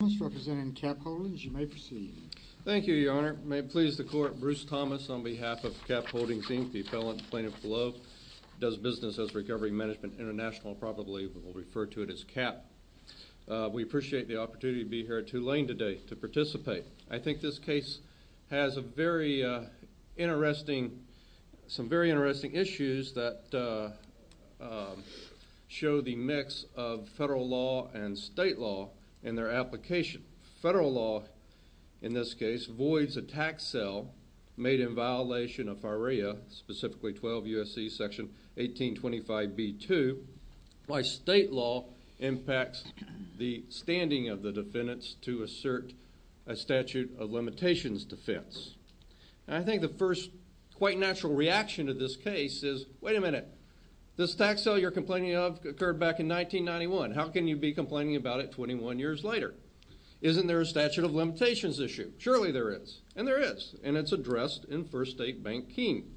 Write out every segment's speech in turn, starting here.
al. Bruce Thomas, representing Cap Holdings. You may proceed. Thank you, Your Honor. May it please the Court, Bruce Thomas, on behalf of Cap Holdings, Inc., the appellant, plaintiff below, does business as Recovery Management International, probably we'll refer to it as CAP. We appreciate the opportunity to be here at Tulane today to participate. I think this case has some very interesting issues that show the mix of federal law and state law in their application. Federal law, in this case, voids a tax cell made in violation of FARAEA, specifically 12 U.S.C. § 1825b-2, while state law impacts the standing of the defendants to assert a statute of limitations defense. I think the first quite natural reaction to this case is, wait a minute, this tax cell you're complaining of occurred back in 1991. How can you be complaining about it 21 years later? Isn't there a statute of limitations issue? Surely there is. And there is. And it's addressed in First State Bank Keene.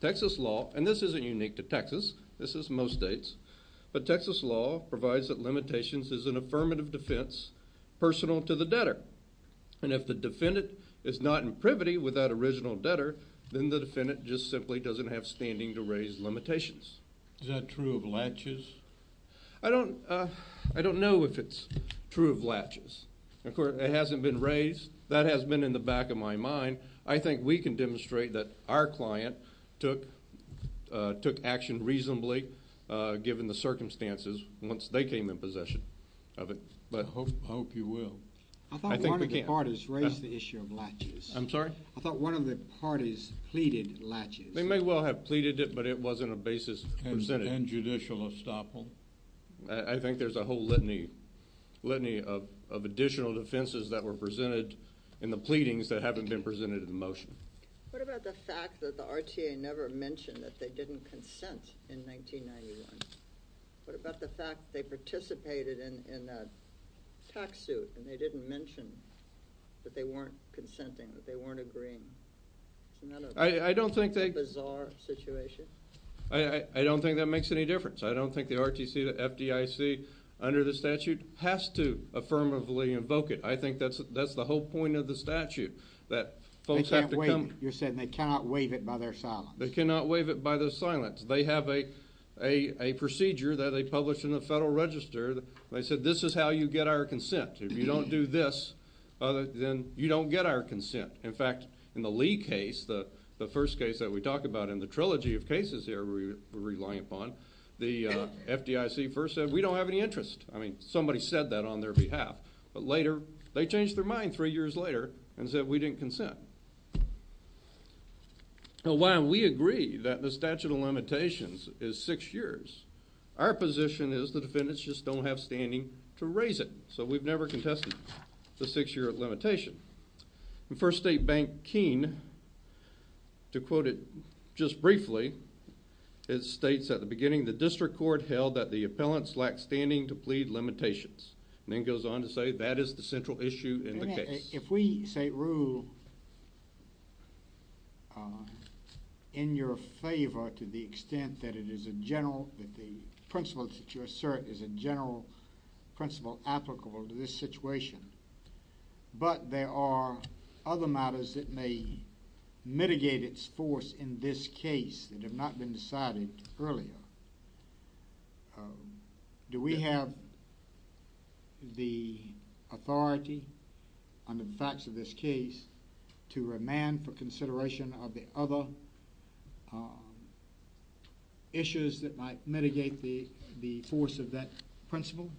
Texas law, and this isn't unique to Texas, this is most states, but Texas law provides that limitations is an affirmative defense personal to the debtor. And if the defendant is not in privity with that original debtor, then the defendant just simply doesn't have standing to raise limitations. Is that true of latches? I don't know if it's true of latches. Of course, it hasn't been raised. That has been in the back of my mind. I think we can demonstrate that our client took action reasonably, given the circumstances, once they came in possession of it. I hope you will. I think we can. I thought one of the parties raised the issue of latches. I'm sorry? I thought one of the parties pleaded latches. They may well have pleaded it, but it wasn't a basis presented. I think there's a whole litany of additional defenses that were presented in the pleadings that haven't been presented in motion. What about the fact that the RTA never mentioned that they didn't consent in 1991? What about the fact they participated in a tax suit and they didn't mention that they weren't consenting, that they weren't agreeing? Isn't that a bizarre situation? I don't think that makes any difference. I don't think the RTC, the FDIC under the statute has to affirmatively invoke it. I think that's the whole point of the statute, that folks have to come... You're saying they cannot waive it by their silence. They cannot waive it by their silence. They have a procedure that they published in the Federal Register. They said this is how you get our consent. If you don't do this, then you don't get our consent. In fact, in the Lee case, the first case that we talk about in the trilogy of cases here we're relying upon, the FDIC first said we don't have any interest. I mean, somebody said that on their behalf. But later, they changed their mind three years later and said we didn't consent. While we agree that the statute of limitations is six years, our position is the defendants just don't have standing to raise it. So, we've never contested the six-year limitation. First State Bank Keene, to quote it just briefly, it states at the beginning of the district court held that the appellants lacked standing to plead limitations. Then it goes on to say that is the central issue in the case. If we say rule in your favor to the extent that it is a general, that the principle that you assert is a general principle applicable to this situation, but there are other matters that may mitigate its force in this case that have not been decided earlier, do we have the authority under the facts of this case to remand for consideration of the other issues that might mitigate the force of that principle?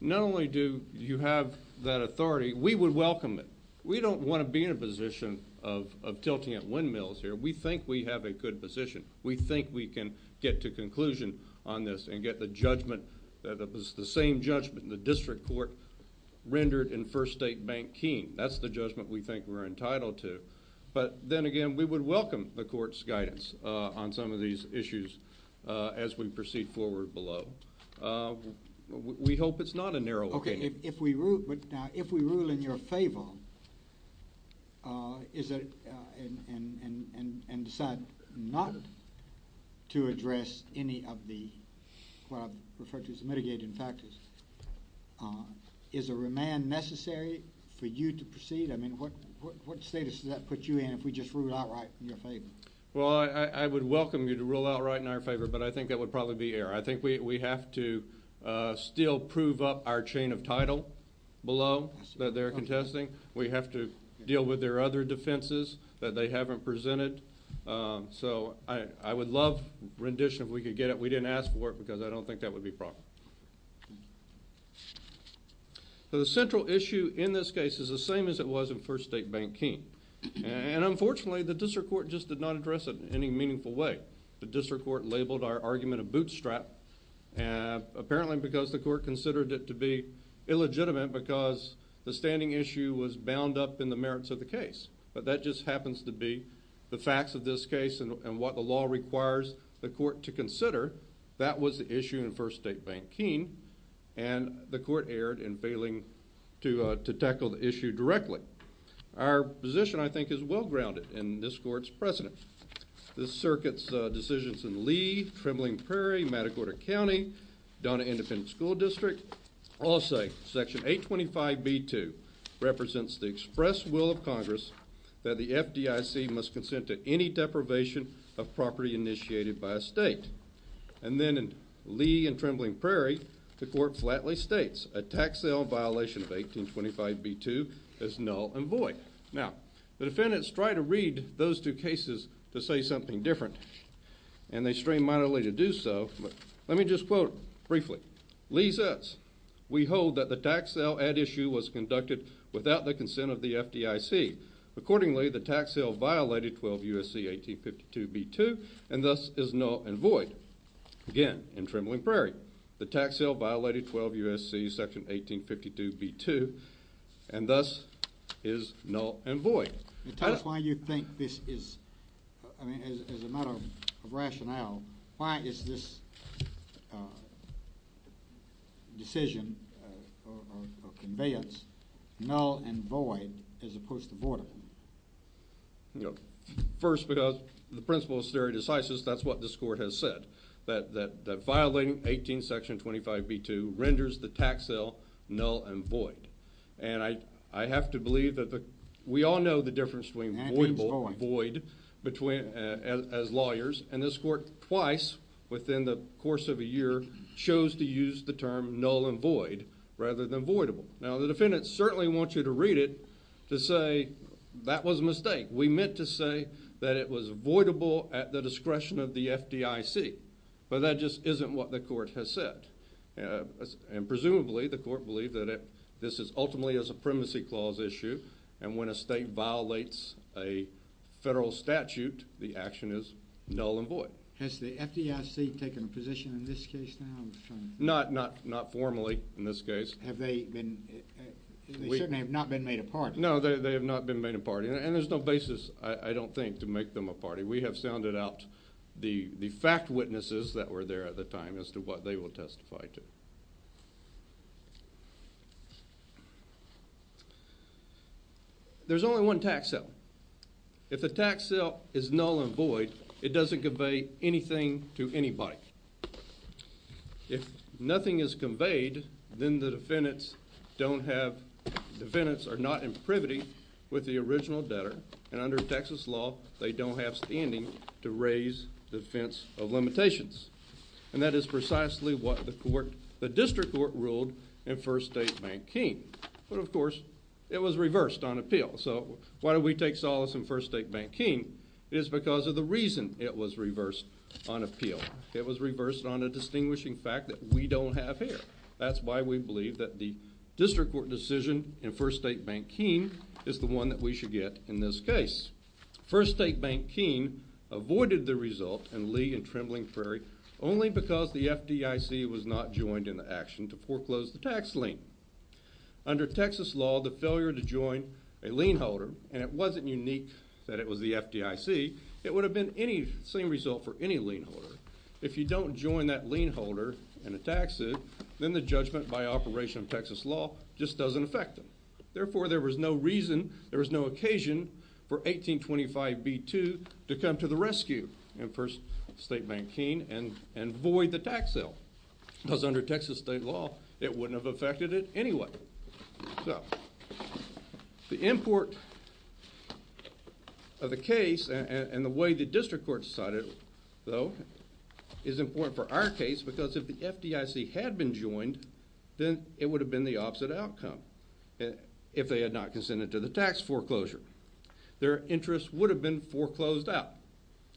Not only do you have that authority, we would welcome it. We don't want to be in a position of tilting at windmills here. We think we have a good position. We think we can get to conclusion on this and get the judgment, the same judgment in the district court rendered in First State Bank Keene. That's the judgment we think we're entitled to. But then again, we would welcome the court's guidance on some of these issues as we proceed forward below. We hope it's not a narrow opinion. If we rule in your favor and decide not to address any of the mitigating factors, is a remand necessary for you to proceed? I mean, what status does that put you in if we just rule outright in your favor? Well, I would welcome you to rule outright in our favor, but I think that would probably be error. I think we have to still prove up our chain of title below that they're contesting. We have to deal with their other defenses that they haven't presented. So I would love rendition if we could get it. We didn't ask for it because I don't think that would be proper. The central issue in this case is the same as it was in First State Bank Keene. And unfortunately, the district court just did not address it in any meaningful way. The district court labeled our argument a bootstrap apparently because the court considered it to be illegitimate because the standing issue was bound up in the merits of the case. But that just happens to be the facts of this case and what the law requires the court to consider. That was the issue in First State Bank Keene, and the court erred in failing to tackle the issue directly. Our position, I think, is well-grounded in this court's precedent. This circuit's decisions in Lee, Trembling Prairie, Matagorda County, Donna Independent School District, all say Section 825B2 represents the express will of Congress that the FDIC must consent to any deprivation of property initiated by a state. And then in Lee and Trembling Prairie, the court flatly states a tax sale violation of 1825B2 is null and void. Now, the defendants try to read those two cases to say something different, and they strain mightily to do so. But let me just quote briefly. Lee says, we hold that the tax sale at issue was conducted without the consent of the FDIC. Accordingly, the tax sale violated 12 U.S.C. 1852B2 and thus is null and void. Again, in Trembling Prairie, the tax sale violated 12 U.S.C. Section 1852B2 and thus is null and void. Tell us why you think this is, I mean, as a matter of rationale, why is this decision or conveyance null and void as opposed to vortical? First, because the principle of stare decisis, that's what this court has said. That violating 18 Section 25B2 renders the tax sale null and void. And I have to believe that we all know the difference between void as lawyers, and this court twice within the course of a year chose to use the term null and void rather than voidable. Now, the defendant certainly wants you to read it to say that was a mistake. We meant to say that it was voidable at the discretion of the FDIC, but that just isn't what the court has said. And presumably, the court believed that this is ultimately a supremacy clause issue, and when a state violates a federal statute, the action is null and void. Has the FDIC taken a position in this case now? Not formally in this case. Have they been – they certainly have not been made a party. No, they have not been made a party, and there's no basis, I don't think, to make them a party. We have sounded out the fact witnesses that were there at the time as to what they will testify to. There's only one tax sale. If the tax sale is null and void, it doesn't convey anything to anybody. If nothing is conveyed, then the defendants don't have – defendants are not in privity with the original debtor, and under Texas law, they don't have standing to raise defense of limitations. And that is precisely what the court – the district court ruled in First State Bank King. But, of course, it was reversed on appeal. So why do we take solace in First State Bank King? It was reversed on a distinguishing fact that we don't have here. That's why we believe that the district court decision in First State Bank King is the one that we should get in this case. First State Bank King avoided the result in Lee and Trembling Prairie only because the FDIC was not joined in the action to foreclose the tax lien. Under Texas law, the failure to join a lien holder, and it wasn't unique that it was the FDIC, it would have been the same result for any lien holder. If you don't join that lien holder in a tax suit, then the judgment by operation of Texas law just doesn't affect them. Therefore, there was no reason, there was no occasion for 1825b-2 to come to the rescue in First State Bank King and void the tax sale because under Texas state law, it wouldn't have affected it anyway. So the import of the case and the way the district court decided, though, is important for our case because if the FDIC had been joined, then it would have been the opposite outcome if they had not consented to the tax foreclosure. Their interest would have been foreclosed out,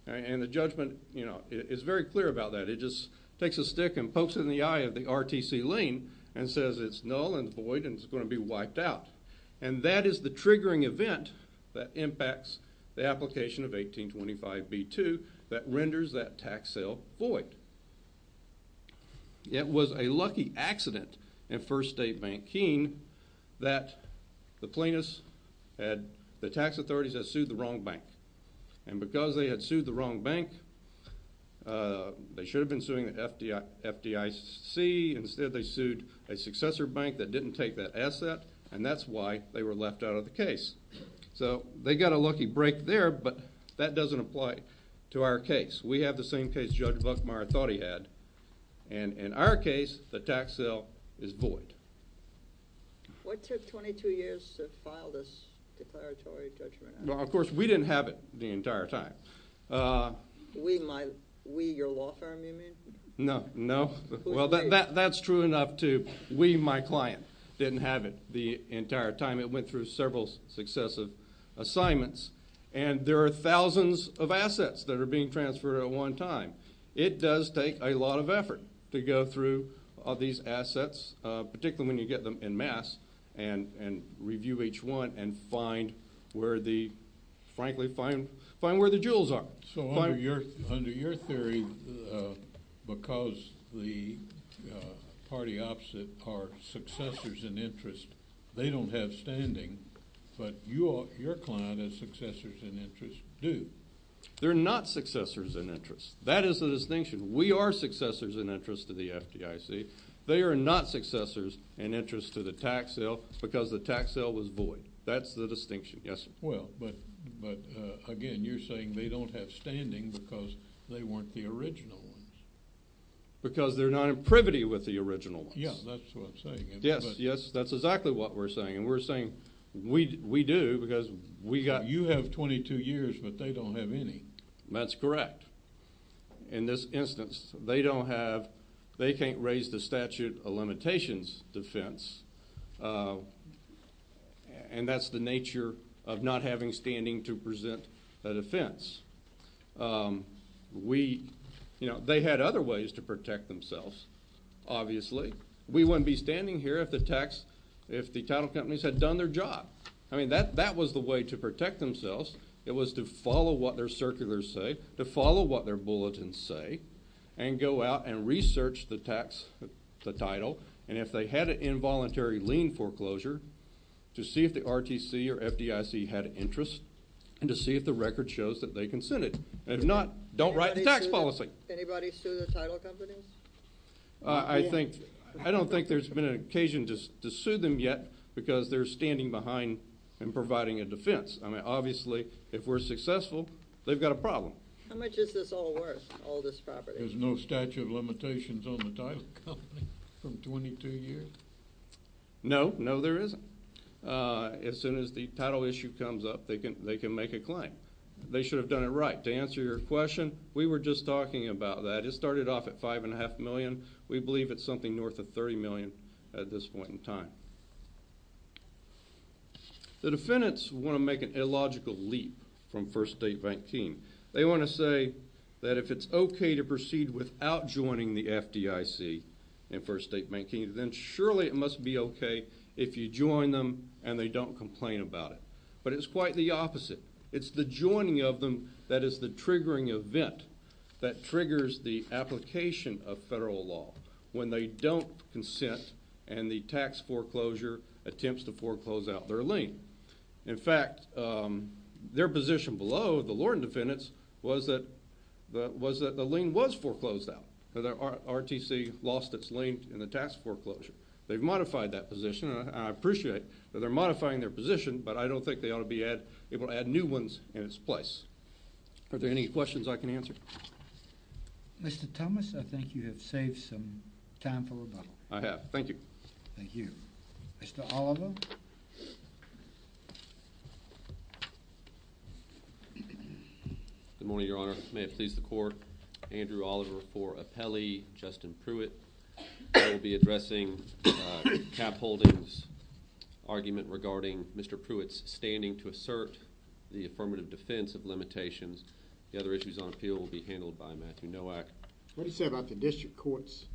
and the judgment is very clear about that. It just takes a stick and pokes it in the eye of the RTC lien and says it's null and void and it's going to be wiped out. And that is the triggering event that impacts the application of 1825b-2 that renders that tax sale void. It was a lucky accident in First State Bank King that the plaintiffs had the tax authorities that sued the wrong bank. And because they had sued the wrong bank, they should have been suing the FDIC. Instead, they sued a successor bank that didn't take that asset, and that's why they were left out of the case. So they got a lucky break there, but that doesn't apply to our case. We have the same case Judge Buckmeyer thought he had, and in our case, the tax sale is void. What took 22 years to file this declaratory judgment? Well, of course, we didn't have it the entire time. We, your law firm, you mean? No, no. Well, that's true enough, too. We, my client, didn't have it the entire time. It went through several successive assignments, and there are thousands of assets that are being transferred at one time. It does take a lot of effort to go through all these assets, particularly when you get them en masse and review each one and find where the, frankly, find where the jewels are. So under your theory, because the party opposite are successors in interest, they don't have standing, but your client and successors in interest do. They're not successors in interest. That is the distinction. We are successors in interest to the FDIC. They are not successors in interest to the tax sale because the tax sale was void. That's the distinction. Yes, sir. Well, but again, you're saying they don't have standing because they weren't the original ones. Because they're not in privity with the original ones. Yeah, that's what I'm saying. Yes, yes, that's exactly what we're saying, and we're saying we do because we got – You have 22 years, but they don't have any. That's correct. In this instance, they don't have – they can't raise the statute of limitations defense, and that's the nature of not having standing to present a defense. We – you know, they had other ways to protect themselves, obviously. We wouldn't be standing here if the tax – if the title companies had done their job. I mean, that was the way to protect themselves. It was to follow what their circulars say, to follow what their bulletins say, and go out and research the tax – the title. And if they had an involuntary lien foreclosure, to see if the RTC or FDIC had an interest and to see if the record shows that they consented. If not, don't write the tax policy. Anybody sue the title companies? I think – I don't think there's been an occasion to sue them yet because they're standing behind and providing a defense. I mean, obviously, if we're successful, they've got a problem. How much is this all worth, all this property? There's no statute of limitations on the title company from 22 years? No. No, there isn't. As soon as the title issue comes up, they can make a claim. They should have done it right. To answer your question, we were just talking about that. It started off at $5.5 million. We believe it's something north of $30 million at this point in time. The defendants want to make an illogical leap from First State Banking. They want to say that if it's okay to proceed without joining the FDIC and First State Banking, then surely it must be okay if you join them and they don't complain about it. But it's quite the opposite. It's the joining of them that is the triggering event that triggers the application of federal law. When they don't consent and the tax foreclosure attempts to foreclose out their lien. In fact, their position below the Lorton defendants was that the lien was foreclosed out, that RTC lost its lien in the tax foreclosure. They've modified that position, and I appreciate that they're modifying their position, but I don't think they ought to be able to add new ones in its place. Are there any questions I can answer? Mr. Thomas, I think you have saved some time for rebuttal. I have. Thank you. Thank you. Mr. Oliver. Good morning, Your Honor. May it please the Court, Andrew Oliver for Appellee, Justin Pruitt. I will be addressing Cap Holdings' argument regarding Mr. Pruitt's standing to assert the affirmative defense of limitations. The other issues on appeal will be handled by Matthew Nowak. What do you say about the district court's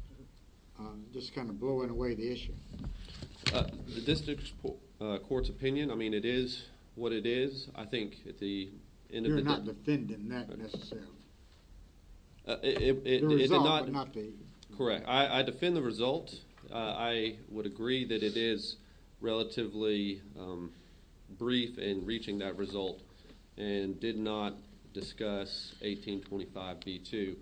just kind of blowing away the issue? The district court's opinion, I mean, it is what it is. I think at the end of the day... You're not defending that necessarily. The result, but not the... Correct. I defend the result. I would agree that it is relatively brief in reaching that result and did not discuss 1825b-2.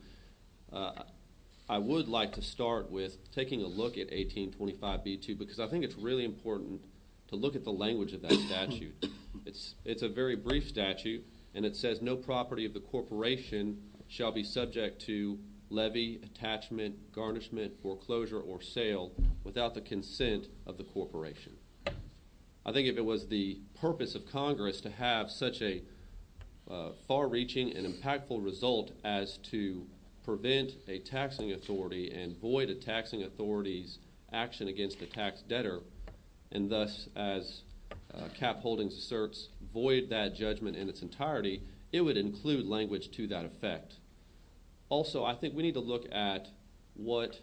I would like to start with taking a look at 1825b-2 because I think it's really important to look at the language of that statute. It's a very brief statute, and it says, No property of the corporation shall be subject to levy, attachment, garnishment, foreclosure, or sale without the consent of the corporation. I think if it was the purpose of Congress to have such a far-reaching and impactful result as to prevent a taxing authority and void a taxing authority's action against a tax debtor and thus, as Cap Holdings asserts, void that judgment in its entirety, it would include language to that effect. Also, I think we need to look at what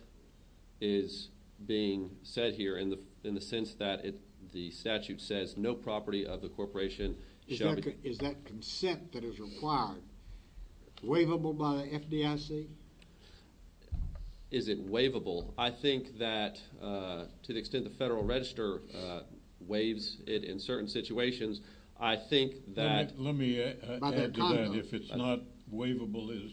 is being said here in the sense that the statute says, No property of the corporation shall be... Is that consent that is required waivable by the FDIC? Is it waivable? I think that to the extent the Federal Register waives it in certain situations, I think that... Let me add to that. If it's not waivable,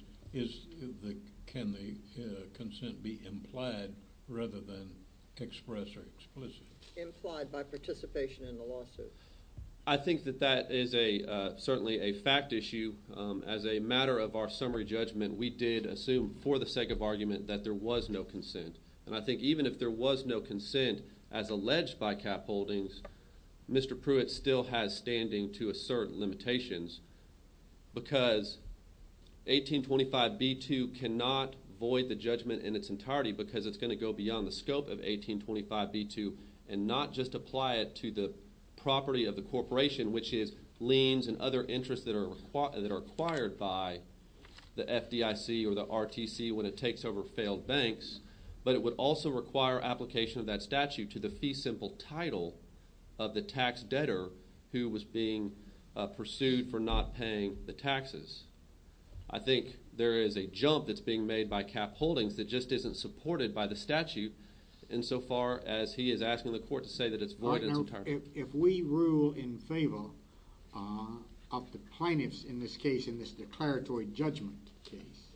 can the consent be implied rather than expressed or explicit? Implied by participation in the lawsuit. I think that that is certainly a fact issue. As a matter of our summary judgment, we did assume for the sake of argument that there was no consent, and I think even if there was no consent as alleged by Cap Holdings, Mr. Pruitt still has standing to assert limitations because 1825b2 cannot void the judgment in its entirety because it's going to go beyond the scope of 1825b2 and not just apply it to the property of the corporation, which is liens and other interests that are acquired by the FDIC or the RTC when it takes over failed banks, but it would also require application of that statute to the fee simple title of the tax debtor who was being pursued for not paying the taxes. I think there is a jump that's being made by Cap Holdings that just isn't supported by the statute insofar as he is asking the court to say that it's void in its entirety. Right now, if we rule in favor of the plaintiffs in this case, in this declaratory judgment case,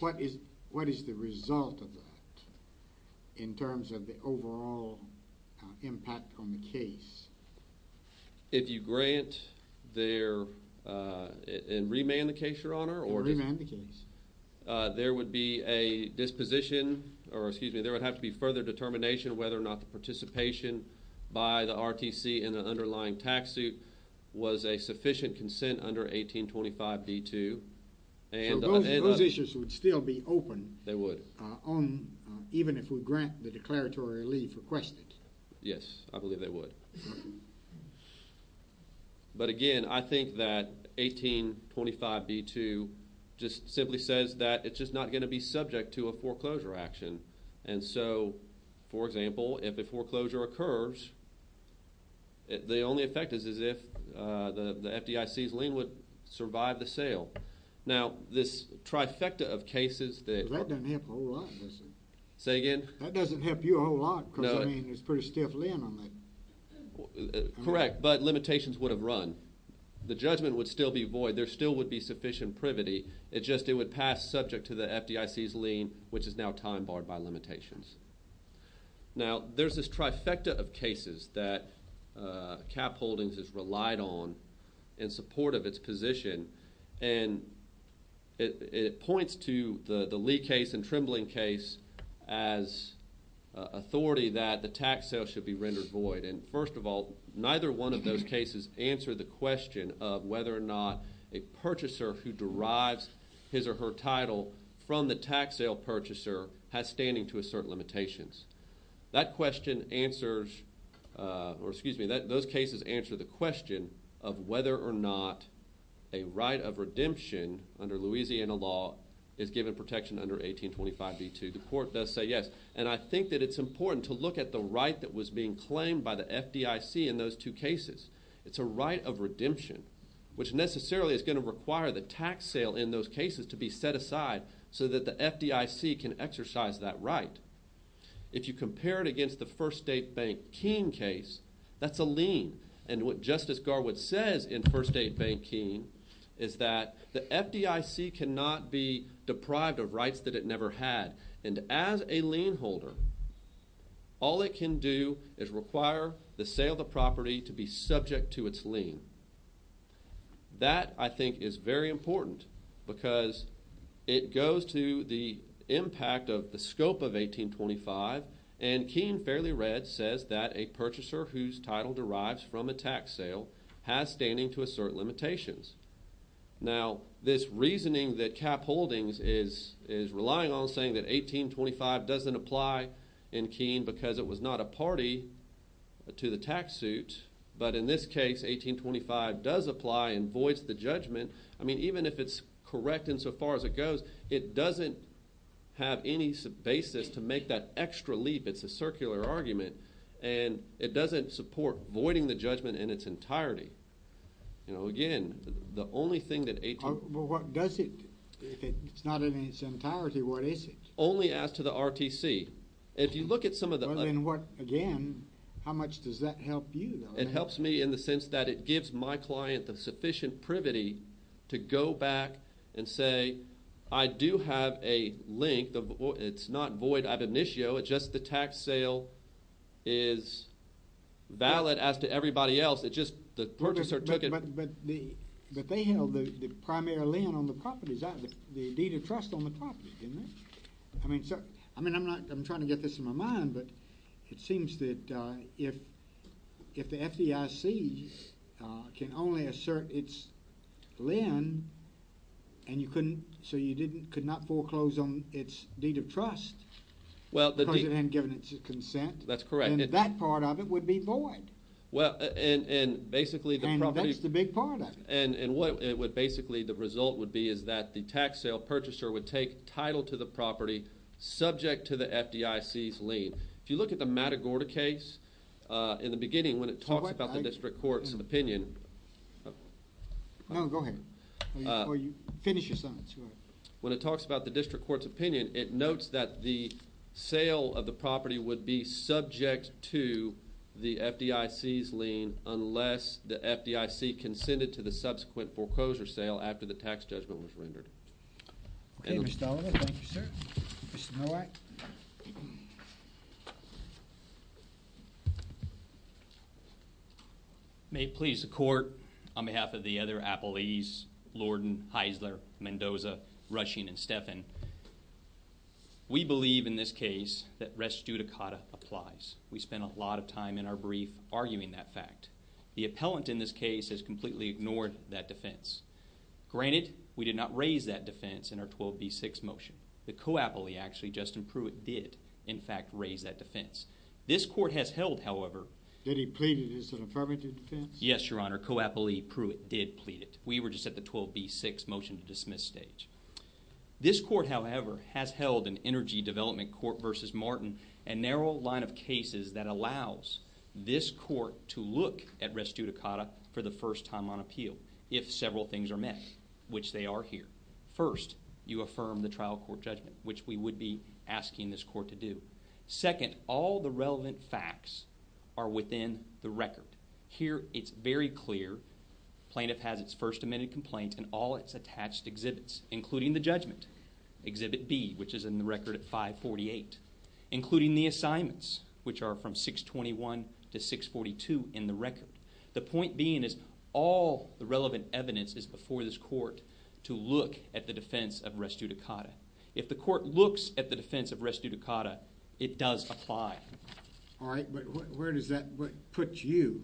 what is the result of that in terms of the overall impact on the case? If you grant and remand the case, Your Honor, there would have to be further determination whether or not the participation by the RTC in the underlying tax suit was a sufficient consent under 1825b2. So those issues would still be open even if we grant the declaratory leave requested. Yes, I believe they would. But again, I think that 1825b2 just simply says that it's just not going to be subject to a foreclosure action. And so, for example, if a foreclosure occurs, the only effect is if the FDIC's lien would survive the sale. Now, this trifecta of cases that... Well, that doesn't help a whole lot, does it? Say again? That doesn't help you a whole lot because, I mean, there's pretty stiff lien on that. Correct, but limitations would have run. The judgment would still be void. There still would be sufficient privity. It just would pass subject to the FDIC's lien, which is now time barred by limitations. Now, there's this trifecta of cases that Cap Holdings has relied on in support of its position and it points to the Lee case and Trembling case as authority that the tax sale should be rendered void. And, first of all, neither one of those cases answer the question of whether or not a purchaser who derives his or her title from the tax sale purchaser has standing to assert limitations. That question answers... Or, excuse me, those cases answer the question of whether or not a right of redemption under Louisiana law is given protection under 1825b2. The court does say yes, and I think that it's important to look at the right that was being claimed by the FDIC in those two cases. It's a right of redemption, which necessarily is going to require the tax sale in those cases to be set aside so that the FDIC can exercise that right. If you compare it against the First State Bank Keene case, that's a lien. And what Justice Garwood says in First State Bank Keene is that the FDIC cannot be deprived of rights that it never had. And as a lien holder, all it can do is require the sale of the property to be subject to its lien. That, I think, is very important because it goes to the impact of the scope of 1825, and Keene, fairly read, says that a purchaser whose title derives from a tax sale has standing to assert limitations. Now, this reasoning that Cap Holdings is relying on saying that 1825 doesn't apply in Keene because it was not a party to the tax suit, but in this case 1825 does apply and voids the judgment, I mean, even if it's correct insofar as it goes, it doesn't have any basis to make that extra leap. It's a circular argument. And it doesn't support voiding the judgment in its entirety. You know, again, the only thing that 1825... Well, what does it? If it's not in its entirety, what is it? Only as to the RTC. If you look at some of the... Well, then what, again, how much does that help you, though? It helps me in the sense that it gives my client the sufficient privity to go back and say, I do have a link. It's not void ad initio. It's just the tax sale is valid as to everybody else. It's just the purchaser took it... But they held the primary land on the properties, the deed of trust on the property, didn't they? I mean, I'm trying to get this in my mind, but it seems that if the FDIC can only assert its lien so you could not foreclose on its deed of trust, because it hadn't given its consent... That's correct. ...then that part of it would be void. Well, and basically the property... And that's the big part of it. And what basically the result would be is that the tax sale purchaser would take title to the property subject to the FDIC's lien. If you look at the Matagorda case, in the beginning, when it talks about the district court's opinion... No, go ahead. Finish your sentence. When it talks about the district court's opinion, it notes that the sale of the property would be subject to the FDIC's lien unless the FDIC consented to the subsequent foreclosure sale after the tax judgment was rendered. Okay, Mr. Sullivan. Thank you, sir. Mr. Nowak. May it please the court, on behalf of the other appellees, Lorden, Heisler, Mendoza, Rushing, and Stephan, we believe in this case that res judicata applies. We spent a lot of time in our brief arguing that fact. The appellant in this case has completely ignored that defense. Granted, we did not raise that defense in our 12B6 motion. The co-appellee, actually, Justin Pruitt, did, in fact, raise that defense. This court has held, however... Did he plead it as an affirmative defense? Yes, Your Honor, co-appellee Pruitt did plead it. We were just at the 12B6 motion to dismiss stage. This court, however, has held in Energy Development Court v. Martin a narrow line of cases that allows this court to look at res judicata for the first time on appeal if several things are met, which they are here. First, you affirm the trial court judgment, which we would be asking this court to do. Second, all the relevant facts are within the record. Here, it's very clear. Plaintiff has its First Amendment complaint and all its attached exhibits, including the judgment, Exhibit B, which is in the record at 548, including the assignments, which are from 621 to 642 in the record. The point being is all the relevant evidence is before this court to look at the defense of res judicata. If the court looks at the defense of res judicata, it does apply. All right, but where does that put you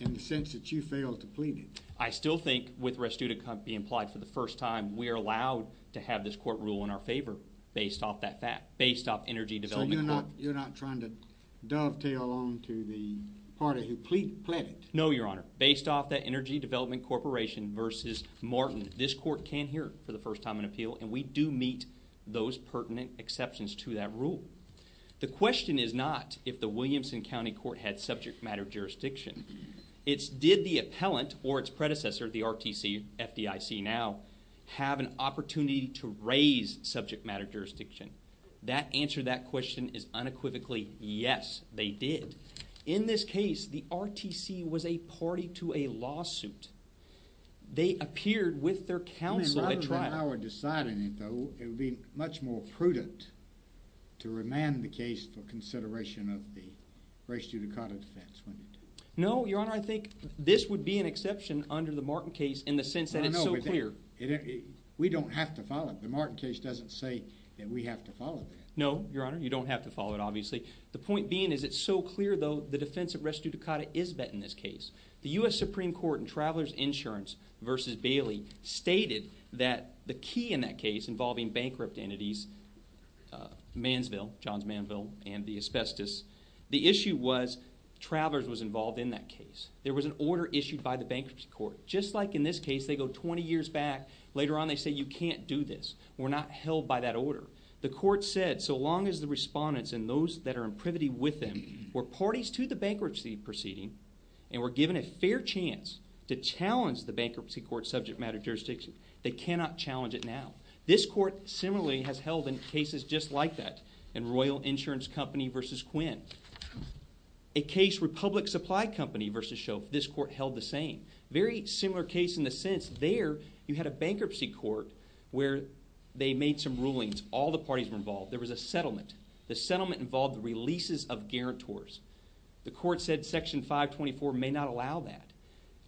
in the sense that you failed to plead it? I still think with res judicata being applied for the first time, we are allowed to have this court rule in our favor based off that fact, based off Energy Development Court. So you're not trying to dovetail on to the party who pleaded it? No, Your Honor. Based off that Energy Development Corporation v. Martin, this court can hear it for the first time on appeal and we do meet those pertinent exceptions to that rule. The question is not if the Williamson County Court had subject matter jurisdiction. It's did the appellant or its predecessor, the RTC, FDIC now, have an opportunity to raise subject matter jurisdiction. That answer to that question is unequivocally yes, they did. In this case, the RTC was a party to a lawsuit. They appeared with their counsel at trial. If I were deciding it, though, it would be much more prudent to remand the case for consideration of the res judicata defense, wouldn't it? No, Your Honor. I think this would be an exception under the Martin case in the sense that it's so clear. We don't have to follow it. The Martin case doesn't say that we have to follow that. No, Your Honor. You don't have to follow it, obviously. The point being is it's so clear, though, the defense of res judicata is met in this case. The U.S. Supreme Court in Traveler's Insurance v. Bailey stated that the key in that case involving bankrupt entities, Mansville, Johns Mansville, and the asbestos, the issue was Traveler's was involved in that case. There was an order issued by the bankruptcy court. Just like in this case, they go 20 years back. Later on, they say you can't do this. We're not held by that order. The court said so long as the respondents and those that are in privity with them were parties to the bankruptcy proceeding and were given a fair chance to challenge the bankruptcy court's subject matter jurisdiction, they cannot challenge it now. This court similarly has held in cases just like that in Royal Insurance Company v. Quinn. A case, Republic Supply Company v. Shope, this court held the same. Very similar case in the sense there you had a bankruptcy court where they made some rulings. All the parties were involved. There was a settlement. The settlement involved the releases of guarantors. The court said Section 524 may not allow that.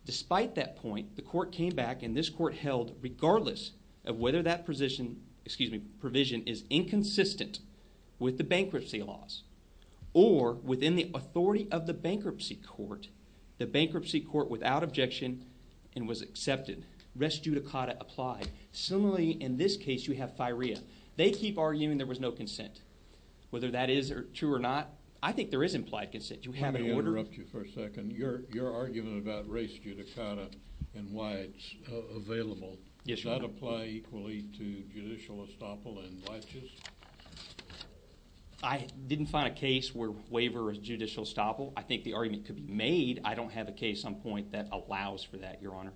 Despite that point, the court came back and this court held regardless of whether that provision is inconsistent with the bankruptcy laws or within the authority of the bankruptcy court, the bankruptcy court without objection and was accepted. Res judicata applied. Similarly, in this case, you have firea. They keep arguing there was no consent. Whether that is true or not, I think there is implied consent. Do we have an order? Let me interrupt you for a second. Your argument about res judicata and why it's available, does that apply equally to judicial estoppel and liches? I didn't find a case where waiver of judicial estoppel. I think the argument could be made. I don't have a case on point that allows for that, Your Honor.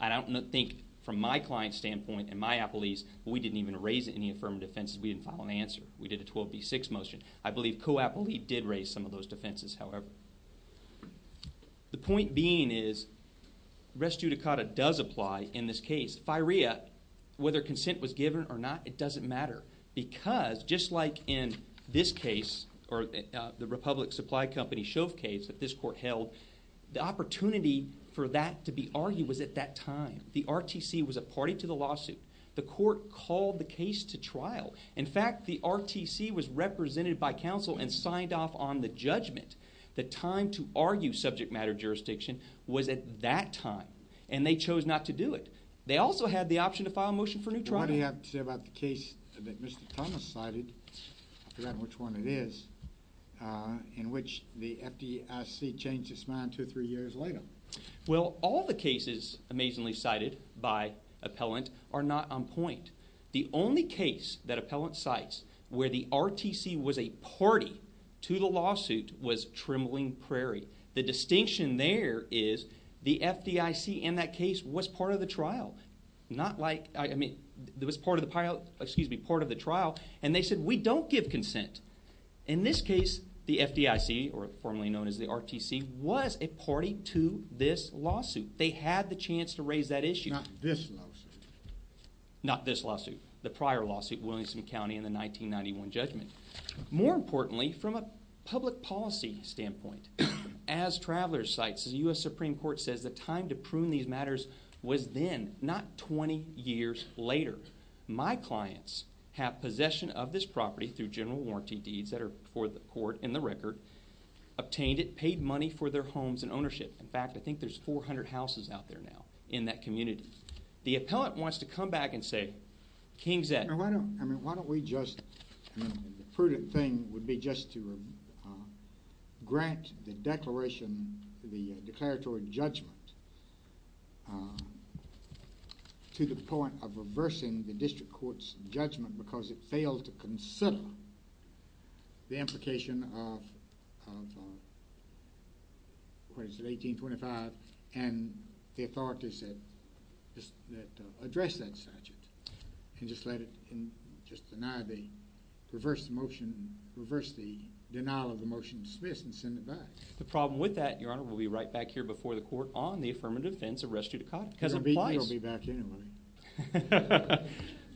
I don't think from my client's standpoint and my appellee's, we didn't even raise any affirmative offenses. We didn't file an answer. We did a 12B6 motion. I believe co-appellee did raise some of those defenses, however. The point being is res judicata does apply in this case. Firea, whether consent was given or not, it doesn't matter because just like in this case or the Republic Supply Company Shove case that this court held, the opportunity for that to be argued was at that time. The RTC was a party to the lawsuit. The court called the case to trial. In fact, the RTC was represented by counsel and signed off on the judgment. The time to argue subject matter jurisdiction was at that time, and they chose not to do it. They also had the option to file a motion for new trial. What do you have to say about the case that Mr. Thomas cited, I forgot which one it is, in which the FDIC changed its mind two or three years later? Well, all the cases amazingly cited by appellant are not on point. The only case that appellant cites where the RTC was a party to the lawsuit was Trembling Prairie. The distinction there is the FDIC in that case was part of the trial. Not like, I mean, it was part of the trial, and they said we don't give consent. In this case, the FDIC, or formerly known as the RTC, was a party to this lawsuit. They had the chance to raise that issue. Not this lawsuit. Not this lawsuit. The prior lawsuit, Williamson County in the 1991 judgment. More importantly, from a public policy standpoint, as Travelers cites, the U.S. Supreme Court says the time to prune these matters was then, not 20 years later. My clients have possession of this property through general warranty deeds that are before the court in the record, obtained it, paid money for their homes and ownership. In fact, I think there's 400 houses out there now in that community. The appellant wants to come back and say, King's Ed. Why don't we just, I mean, the prudent thing would be just to grant the declaration, the declaratory judgment to the point of reversing the district court's judgment because it failed to consider the implication of 1825 and the authorities that addressed that statute and just let it, just deny the, reverse the motion, reverse the denial of the motion dismissed and send it back. The problem with that, Your Honor, will be right back here before the court on the affirmative defense of res judicata because it applies. You'll be back anyway.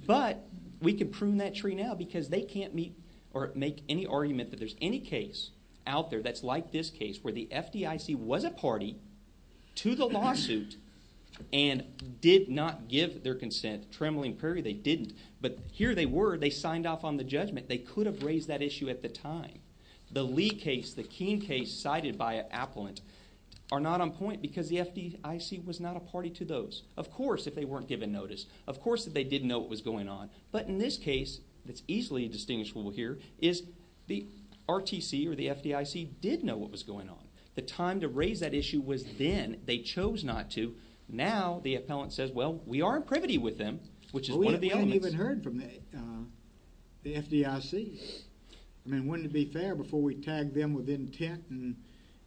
But we can prune that tree now because they can't meet or make any argument that there's any case out there that's like this case where the FDIC was a party to the lawsuit and did not give their consent. Trembling Prairie, they didn't. But here they were. They signed off on the judgment. They could have raised that issue at the time. The Lee case, the King case cited by an appellant, are not on point because the FDIC was not a party to those. Of course, if they weren't given notice, of course that they didn't know what was going on. But in this case, it's easily distinguishable here, is the RTC or the FDIC did know what was going on. The time to raise that issue was then. They chose not to. Now the appellant says, well, we are in privity with them, which is one of the elements. We haven't even heard from the FDIC. I mean, wouldn't it be fair before we tag them with intent and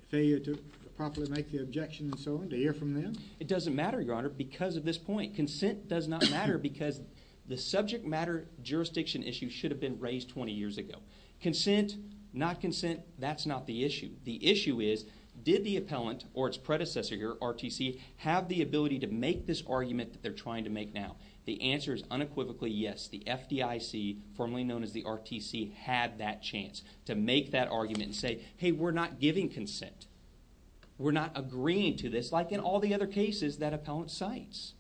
failure to properly make the objection and so on to hear from them? It doesn't matter, Your Honor, because of this point. Consent does not matter because the subject matter jurisdiction issue should have been raised 20 years ago. Consent, not consent, that's not the issue. The issue is, did the appellant or its predecessor here, RTC, have the ability to make this argument that they're trying to make now? The answer is unequivocally yes. The FDIC, formerly known as the RTC, had that chance to make that argument and say, hey, we're not giving consent. We're not agreeing to this. It's like in all the other cases that appellant cites.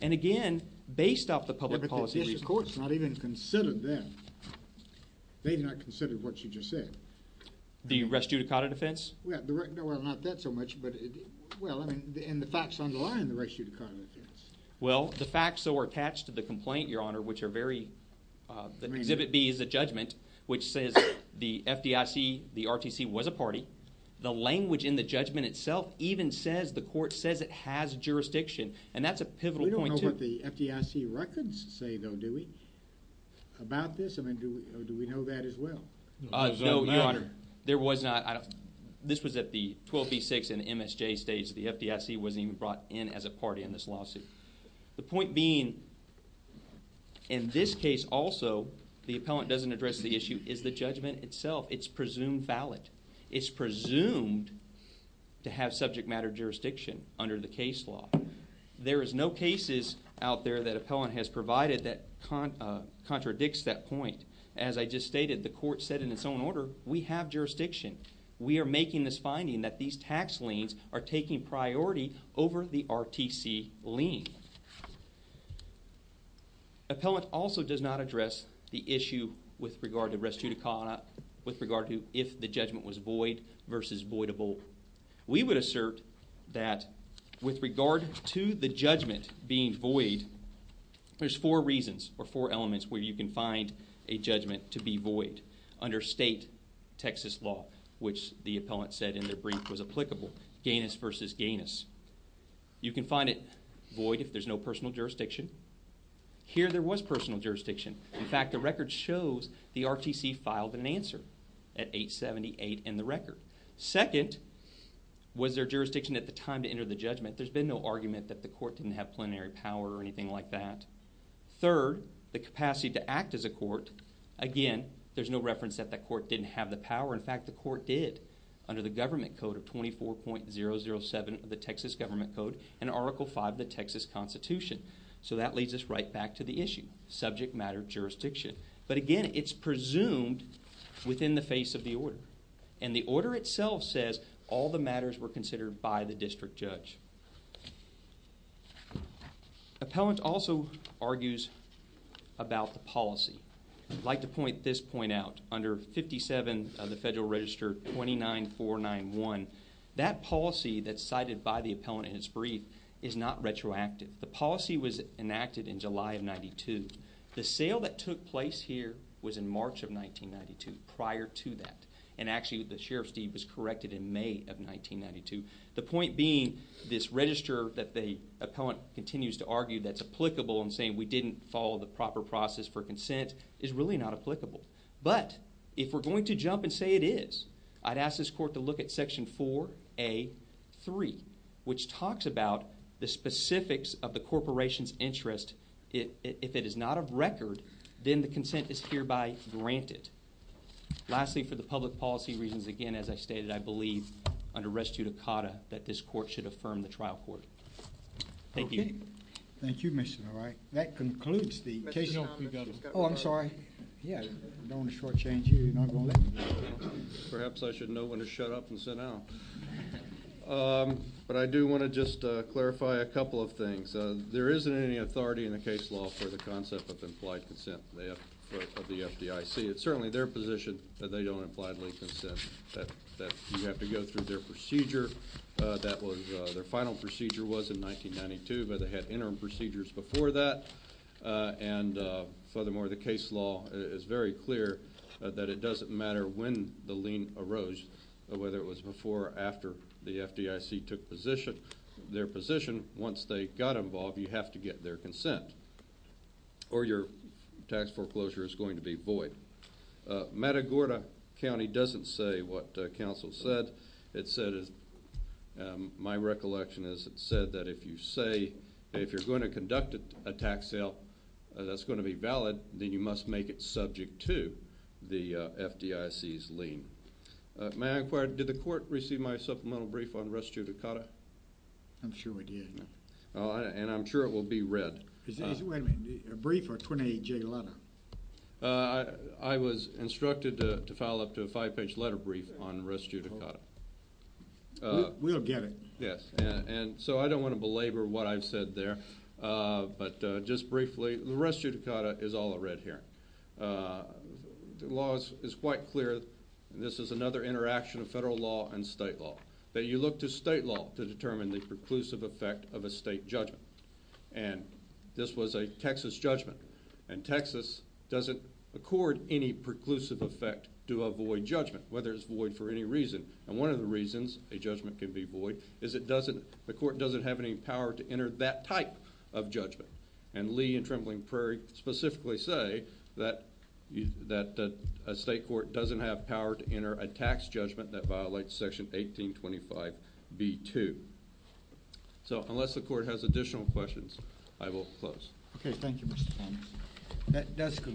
And again, based off the public policy reasons. Mr. Court's not even considered them. They've not considered what you just said. The restitutacata defense? Well, not that so much, but, well, I mean, and the facts underlying the restitutacata defense. Well, the facts that were attached to the complaint, Your Honor, which are very – Exhibit B is a judgment which says the FDIC, the RTC, was a party. The language in the judgment itself even says the court says it has jurisdiction. And that's a pivotal point, too. We don't know what the FDIC records say, though, do we, about this? I mean, do we know that as well? No, Your Honor. There was not – this was at the 12B6 and MSJ stage. The FDIC wasn't even brought in as a party in this lawsuit. The point being, in this case also, the appellant doesn't address the issue. It's the judgment itself. It's presumed valid. It's presumed to have subject matter jurisdiction under the case law. There is no cases out there that appellant has provided that contradicts that point. As I just stated, the court said in its own order, we have jurisdiction. We are making this finding that these tax liens are taking priority over the RTC lien. Appellant also does not address the issue with regard to restitutacata, with regard to if the judgment was void versus voidable. We would assert that with regard to the judgment being void, there's four reasons or four elements where you can find a judgment to be void under state Texas law, which the appellant said in their brief was applicable, ganus versus ganus. You can find it void if there's no personal jurisdiction. Here there was personal jurisdiction. In fact, the record shows the RTC filed an answer at 878 in the record. Second, was there jurisdiction at the time to enter the judgment? There's been no argument that the court didn't have plenary power or anything like that. Third, the capacity to act as a court. Again, there's no reference that the court didn't have the power. In fact, the court did under the Government Code of 24.007 of the Texas Government Code and Article V of the Texas Constitution. So that leads us right back to the issue. Subject matter jurisdiction. But again, it's presumed within the face of the order, and the order itself says all the matters were considered by the district judge. Appellant also argues about the policy. I'd like to point this point out. Under 57 of the Federal Register 29491, that policy that's cited by the appellant in its brief is not retroactive. The policy was enacted in July of 92. The sale that took place here was in March of 1992, prior to that, and actually the sheriff's deed was corrected in May of 1992. The point being this register that the appellant continues to argue that's applicable in saying we didn't follow the proper process for consent is really not applicable. But if we're going to jump and say it is, I'd ask this court to look at Section 4A.3, which talks about the specifics of the corporation's interest. If it is not of record, then the consent is hereby granted. Lastly, for the public policy reasons, again, as I stated, I believe under res judicata that this court should affirm the trial court. Thank you. Thank you, Mr. Leroy. That concludes the case. Oh, I'm sorry. Yeah, I don't want to shortchange you. Perhaps I should know when to shut up and sit down. But I do want to just clarify a couple of things. There isn't any authority in the case law for the concept of implied consent of the FDIC. It's certainly their position that they don't imply legal consent, that you have to go through their procedure. Their final procedure was in 1992, but they had interim procedures before that. And furthermore, the case law is very clear that it doesn't matter when the lien arose, whether it was before or after the FDIC took their position. Once they got involved, you have to get their consent or your tax foreclosure is going to be void. Matagorda County doesn't say what counsel said. My recollection is it said that if you say if you're going to conduct a tax sale that's going to be valid, then you must make it subject to the FDIC's lien. May I inquire, did the court receive my supplemental brief on res judicata? I'm sure it did. And I'm sure it will be read. Wait a minute. A brief or a 28-J letter? I was instructed to file up to a five-page letter brief on res judicata. We'll get it. Yes. And so I don't want to belabor what I've said there. But just briefly, the res judicata is all I read here. The law is quite clear. This is another interaction of federal law and state law, that you look to state law to determine the preclusive effect of a state judgment. And this was a Texas judgment. And Texas doesn't accord any preclusive effect to a void judgment, whether it's void for any reason. And one of the reasons a judgment can be void is the court doesn't have any power to enter that type of judgment. And Lee and Trembling Prairie specifically say that a state court doesn't have power to enter a tax judgment that violates Section 1825b-2. So unless the court has additional questions, I will close. Okay, thank you, Mr. Thomas. That does conclude.